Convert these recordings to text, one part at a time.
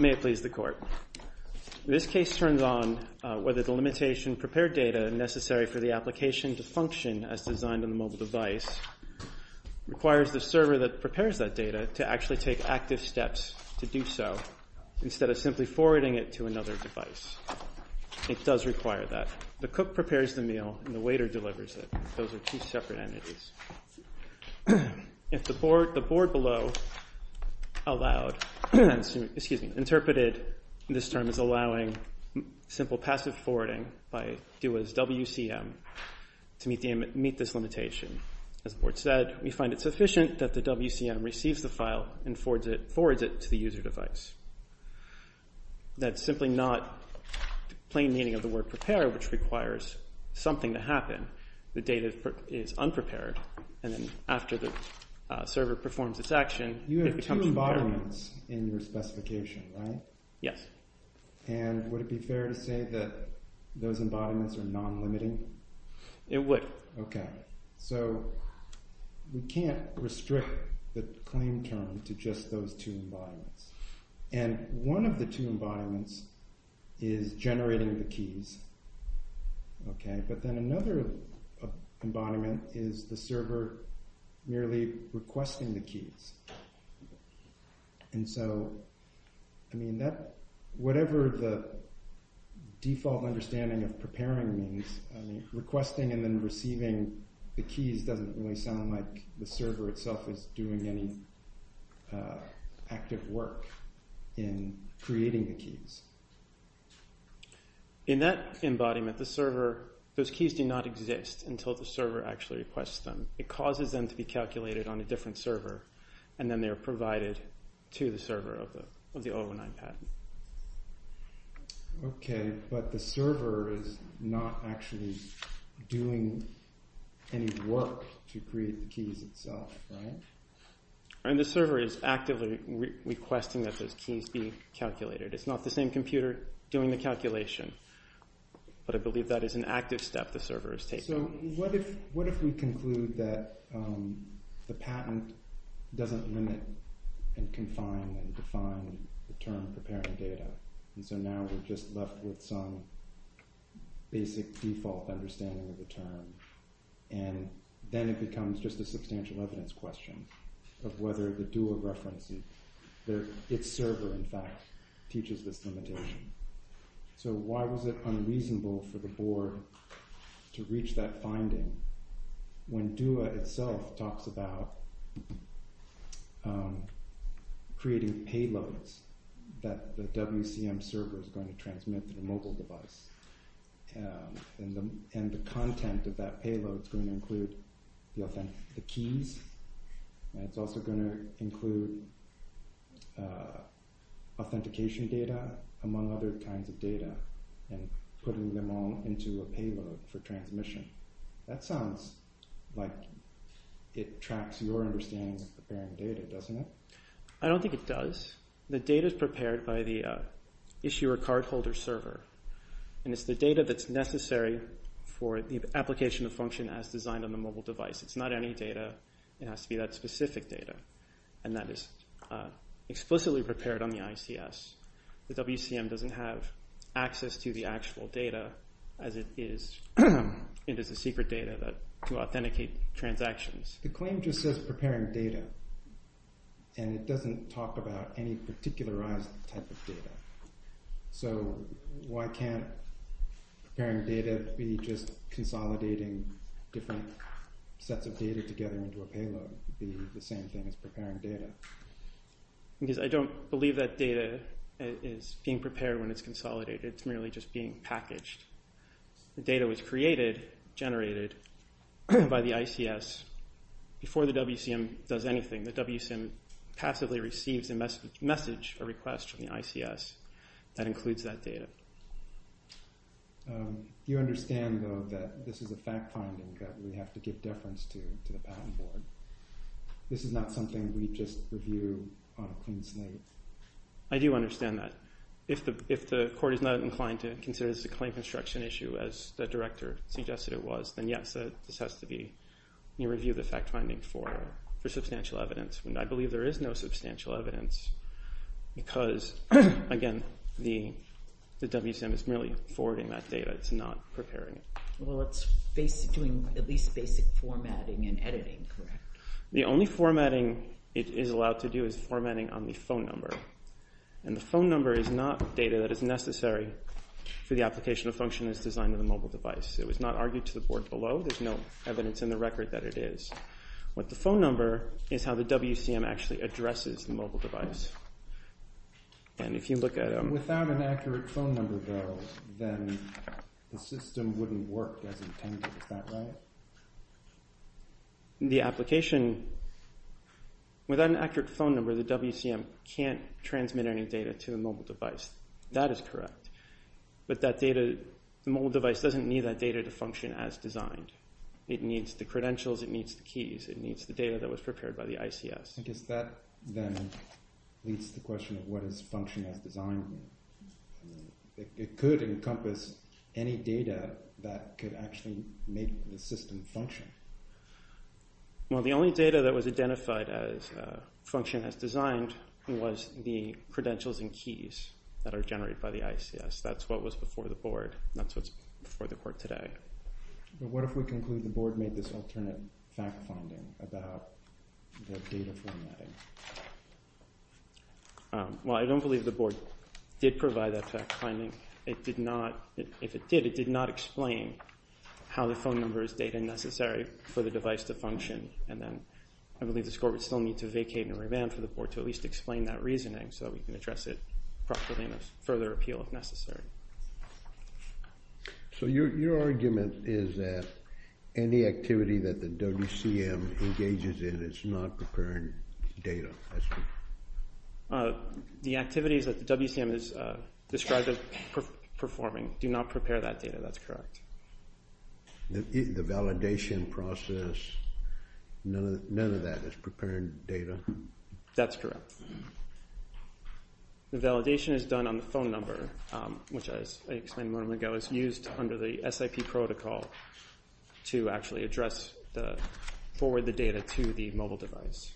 May it please the Court. This case turns on whether the limitation prepared data necessary for the application to function as designed in the mobile device requires the server that prepares that data to actually take active steps to do so instead of simply forwarding it to another device. It does require that. The cook prepares the meal and the waiter delivers it. Those are two separate entities. If the board below allowed, excuse me, interpreted this term as allowing simple passive forwarding by WCM to meet this limitation, as the board said, we find it sufficient that the WCM receives the file and forwards it to the user device. That's simply not the plain meaning of the word prepare which requires something to happen. The data is unprepared and then after the server performs its action, you have two embodiments in your specification, right? Yes. And would it be fair to say that those embodiments are non-limiting? It would. OK. So we can't restrict the claim term to just those two embodiments. And one of the two embodiments is generating the keys. OK. But then another embodiment is the server merely requesting the keys. And so, I mean, whatever the default understanding of preparing means, requesting and then receiving the keys doesn't really sound like the server itself is doing any active work in creating the keys. In that embodiment, the server, those keys do not exist until the server actually requests them. It causes them to be calculated on a different server and then they are provided to the server of the 019 patent. But the server is not actually doing any work to create the keys itself, right? And the server is actively requesting that those keys be calculated. It's not the same computer doing the calculation. But I believe that is an active step the server is taking. So what if we conclude that the patent doesn't limit and confine and define the term preparing data? And so now we're just left with some basic default understanding of the term. And then it becomes just a substantial evidence question of whether the dual reference and its server, in fact, teaches this limitation. So why was it unreasonable for the board to reach that finding when DUA itself talks about creating payloads that the WCM server is going to transmit to the mobile device? And the content of that payload is going to include the keys. It's also going to include authentication data, among other kinds of data, and putting them all into a payload for transmission. That sounds like it tracks your understanding of preparing data, doesn't it? I don't think it does. The data is prepared by the issuer cardholder server. And it's the data that's necessary for the application of function as designed on the mobile device. It's not any data. It has to be that specific data. And that is explicitly prepared on the ICS. The WCM doesn't have access to the actual data as it is into the secret data to authenticate transactions. The claim just says preparing data, and it doesn't talk about any particularized type of data. So why can't preparing data be just consolidating different sets of data together into a payload be the same thing as preparing data? Because I don't believe that data is being prepared when it's consolidated. It's merely just being packaged. The data was created, generated, by the ICS before the WCM does anything. The WCM passively receives a message, a request from the ICS that includes that data. You understand, though, that this is a fact-finding that we have to give deference to the patent board. This is not something we just review on a clean slate. I do understand that. If the court is not inclined to consider this a claim construction issue as the director suggested it was, then yes, this has to be a review of the fact-finding for substantial evidence. And I believe there is no substantial evidence because, again, the WCM is merely forwarding that data. It's not preparing it. Well, it's doing at least basic formatting and editing, correct? The only formatting it is allowed to do is formatting on the phone number. And the phone number is not data that is necessary for the application of function as designed in the mobile device. It was not argued to the board below. There's no evidence in the record that it is. What the phone number is how the WCM actually addresses the mobile device. And if you look at a... Without an accurate phone number, though, then the system wouldn't work as intended. Is that right? The application... Without an accurate phone number, the WCM can't transmit any data to a mobile device. That is correct. But that data... The mobile device doesn't need that data to function as designed. It needs the credentials. It needs the keys. It needs the data that was prepared by the ICS. I guess that, then, leads to the question of what is function as designed. It could encompass any data that could actually make the system function. Well, the only data that was identified as function as designed was the credentials and keys that are generated by the ICS. That's what was before the board. That's what's before the court today. But what if we conclude the board made this alternate fact-finding about the data formatting? Well, I don't believe the board did provide that fact-finding. If it did, it did not explain how the phone number is data necessary for the device to function. And then I believe the court would still need to vacate and revamp for the board to at least explain that reasoning so that we can address it properly and have further appeal if necessary. So your argument is that any activity that the WCM engages in is not preparing data? The activities that the WCM is described as performing do not prepare that data, that's correct. The validation process, none of that is preparing data? That's correct. The validation is done on the phone number, which, as I explained a moment ago, is used under the SIP protocol to actually forward the data to the mobile device.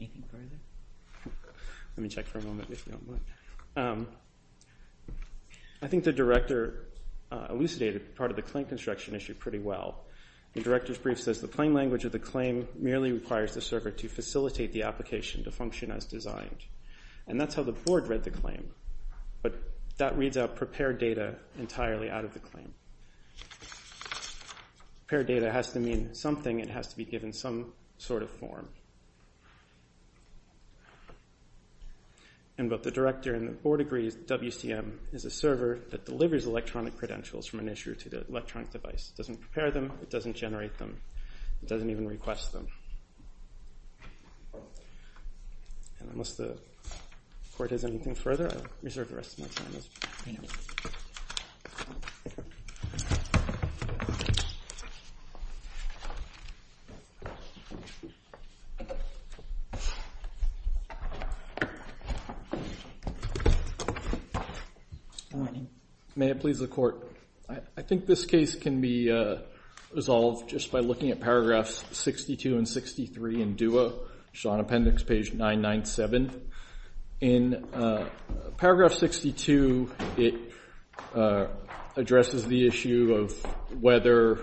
Anything further? Let me check for a moment if you don't mind. I think the director elucidated part of the claim construction issue pretty well. The director's brief says the plain language of the claim merely requires the circuit to facilitate the application to function as designed. And that's how the board read the claim. But that reads out prepare data entirely out of the claim. Prepare data has to mean something, it has to be given some sort of form. And both the director and the board agree WCM is a server that delivers electronic credentials from an issue to the electronic device. It doesn't prepare them, it doesn't generate them, it doesn't even request them. Unless the court has anything further, I'll reserve the rest of my time. Good morning. May it please the court. I think this case can be resolved just by looking at paragraphs 62 and 63 in DUA, which is on appendix page 997. In paragraph 62, it addresses the issue of whether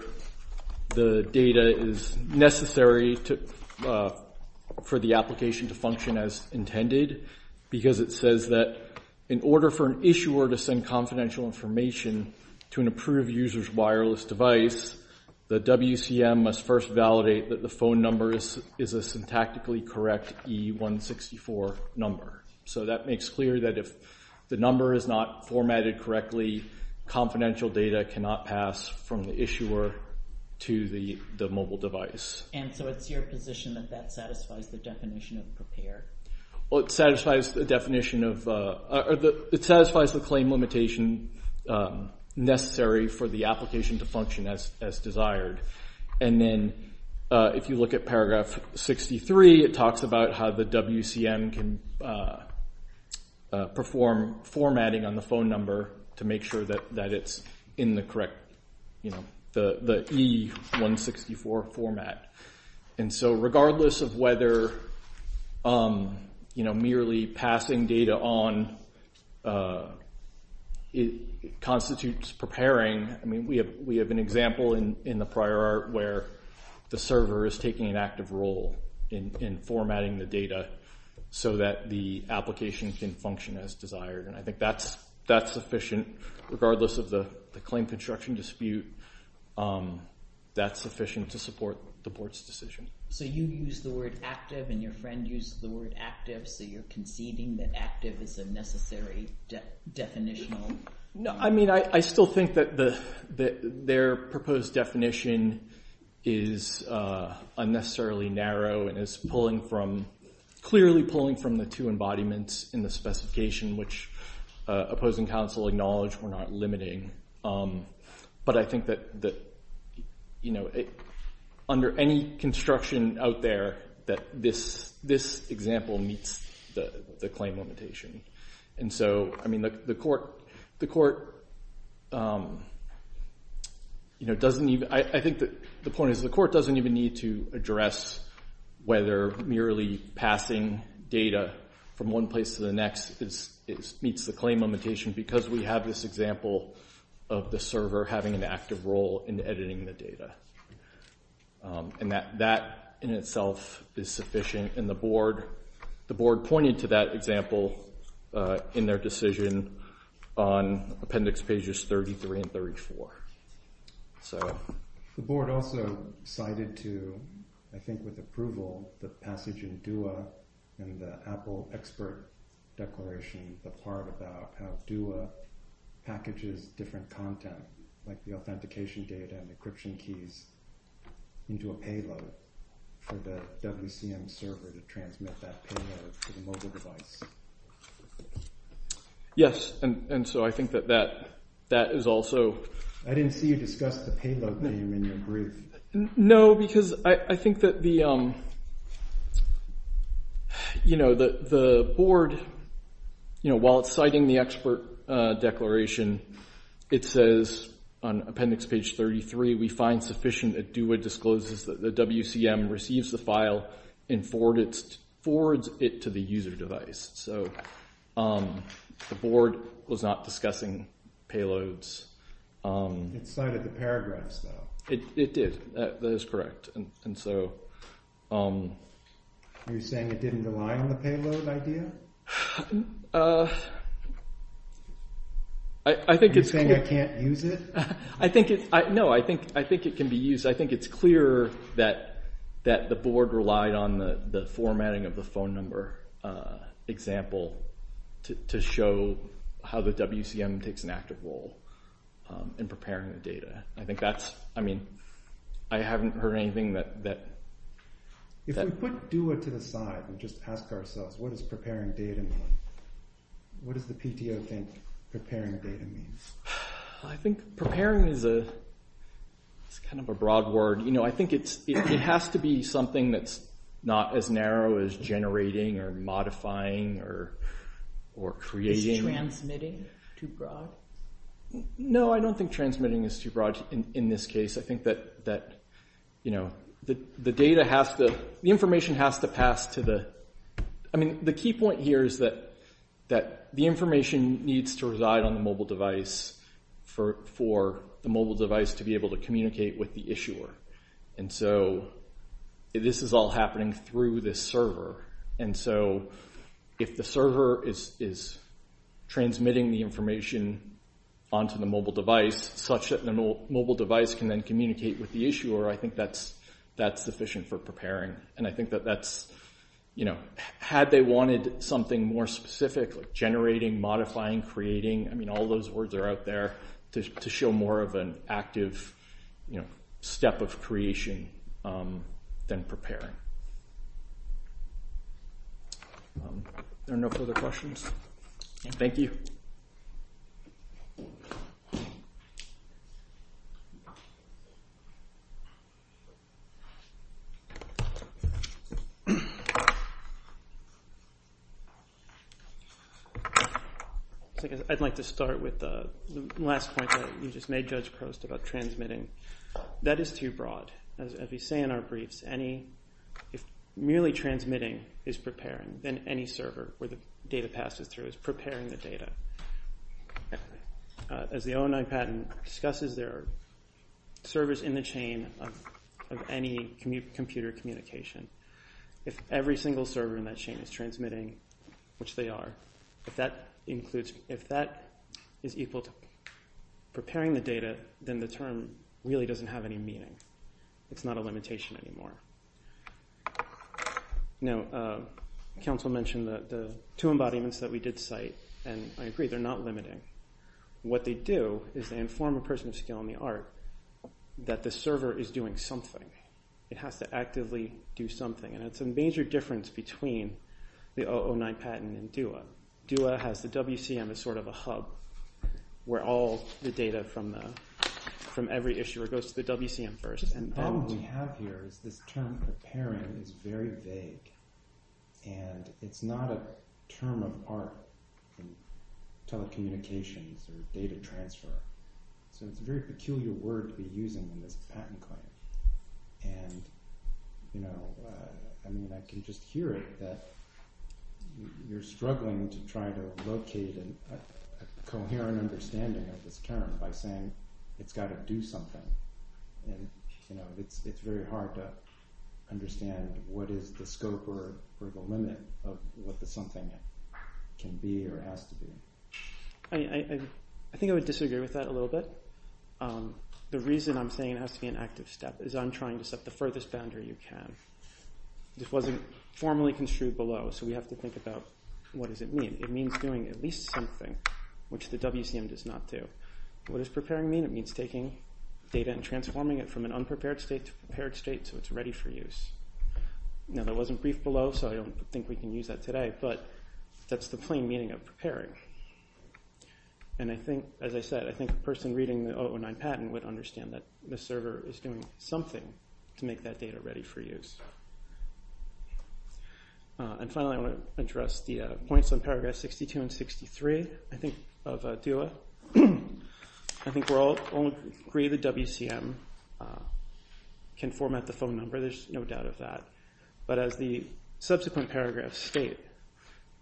the data is necessary for the application to function as intended. Because it says that in order for an issuer to send confidential information to an approved user's wireless device, the WCM must first validate that the phone number is a syntactically correct E164 number. So that makes clear that if the number is not formatted correctly, confidential data cannot pass from the issuer to the mobile device. And so it's your position that that satisfies the definition of prepared? It satisfies the claim limitation necessary for the application to function as desired. And then if you look at paragraph 63, it talks about how the WCM can perform formatting on the phone number to make sure that it's in the correct E164 format. And so regardless of whether merely passing data on constitutes preparing, we have an example in the prior art where the server is taking an active role in formatting the data so that the application can function as desired. And I think that's sufficient regardless of the claim construction dispute. That's sufficient to support the board's decision. So you use the word active and your friend used the word active, so you're conceding that active is a necessary definitional? I mean, I still think that their proposed definition is unnecessarily narrow and is clearly pulling from the two embodiments in the specification, which opposing counsel acknowledged were not limiting. But I think that under any construction out there that this example meets the claim limitation. And so, I mean, the court doesn't even need to address whether merely passing data from one place to the next meets the claim limitation because we have this example of the server having an active role in editing the data. And that in itself is sufficient. The board pointed to that example in their decision on appendix pages 33 and 34. The board also cited to, I think with approval, the passage in DUA and the Apple expert declaration, the part about how DUA packages different content like the authentication data and encryption keys into a payload for the WCM server to transmit that payload to the mobile device. Yes, and so I think that that is also... I didn't see you discuss the payload name in your brief. No, because I think that the board, while it's citing the expert declaration, it says on appendix page 33, we find sufficient that DUA discloses that the WCM receives the file and forwards it to the user device. So the board was not discussing payloads. It cited the paragraphs, though. It did. That is correct. And so... You're saying it didn't rely on the payload idea? Are you saying I can't use it? No, I think it can be used. I think it's clear that the board relied on the formatting of the phone number example to show how the WCM takes an active role in preparing the data. I mean, I haven't heard anything that... If we put DUA to the side and just ask ourselves, what does preparing data mean? What does the PTO think preparing data means? I think preparing is kind of a broad word. I think it has to be something that's not as narrow as generating or modifying or creating. Is transmitting too broad? No, I don't think transmitting is too broad in this case. I think that the information has to pass to the... I mean, the key point here is that the information needs to reside on the mobile device for the mobile device to be able to communicate with the issuer. And so this is all happening through this server. And so if the server is transmitting the information onto the mobile device such that the mobile device can then communicate with the issuer, I think that's sufficient for preparing. And I think that that's... Had they wanted something more specific like generating, modifying, creating, I mean, all those words are out there to show more of an active step of creation than preparing. Are there no further questions? Thank you. I'd like to start with the last point that you just made, Judge Crost, about transmitting. That is too broad. As we say in our briefs, if merely transmitting is preparing, then any server where the data passes through is preparing the data. As the O09 patent discusses, there are servers in the chain of any computer communication. If every single server in that chain is transmitting, which they are, if that is equal to preparing the data, then the term really doesn't have any meaning. It's not a limitation anymore. Now, counsel mentioned the two embodiments that we did cite, and I agree, they're not limiting. What they do is they inform a person of skill in the art that the server is doing something. It has to actively do something. And that's a major difference between the O09 patent and DOA. DOA has the WCM as sort of a hub where all the data from every issuer goes to the WCM first. The problem we have here is this term preparing is very vague, and it's not a term of art in telecommunications or data transfer. So it's a very peculiar word to be using in this patent claim. And I can just hear it that you're struggling to try to locate a coherent understanding of this term by saying it's got to do something. And it's very hard to understand what is the scope or the limit of what the something can be or has to be. I think I would disagree with that a little bit. The reason I'm saying it has to be an active step is I'm trying to set the furthest boundary you can. This wasn't formally construed below, so we have to think about what does it mean. It means doing at least something, which the WCM does not do. What does preparing mean? It means taking data and transforming it from an unprepared state to a prepared state so it's ready for use. Now, that wasn't briefed below, so I don't think we can use that today, but that's the plain meaning of preparing. And I think, as I said, I think the person reading the 009 patent would understand that the server is doing something to make that data ready for use. And finally, I want to address the points on paragraph 62 and 63 of DOA. I think we're all agree the WCM can format the phone number. There's no doubt of that. But as the subsequent paragraphs state,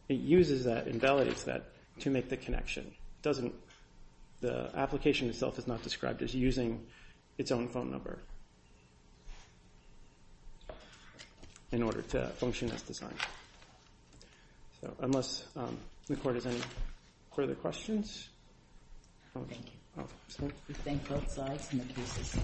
it uses that and validates that to make the connection. The application itself is not described as using its own phone number in order to function as designed. So unless the court has any further questions. Thank you. We thank both sides and the cases.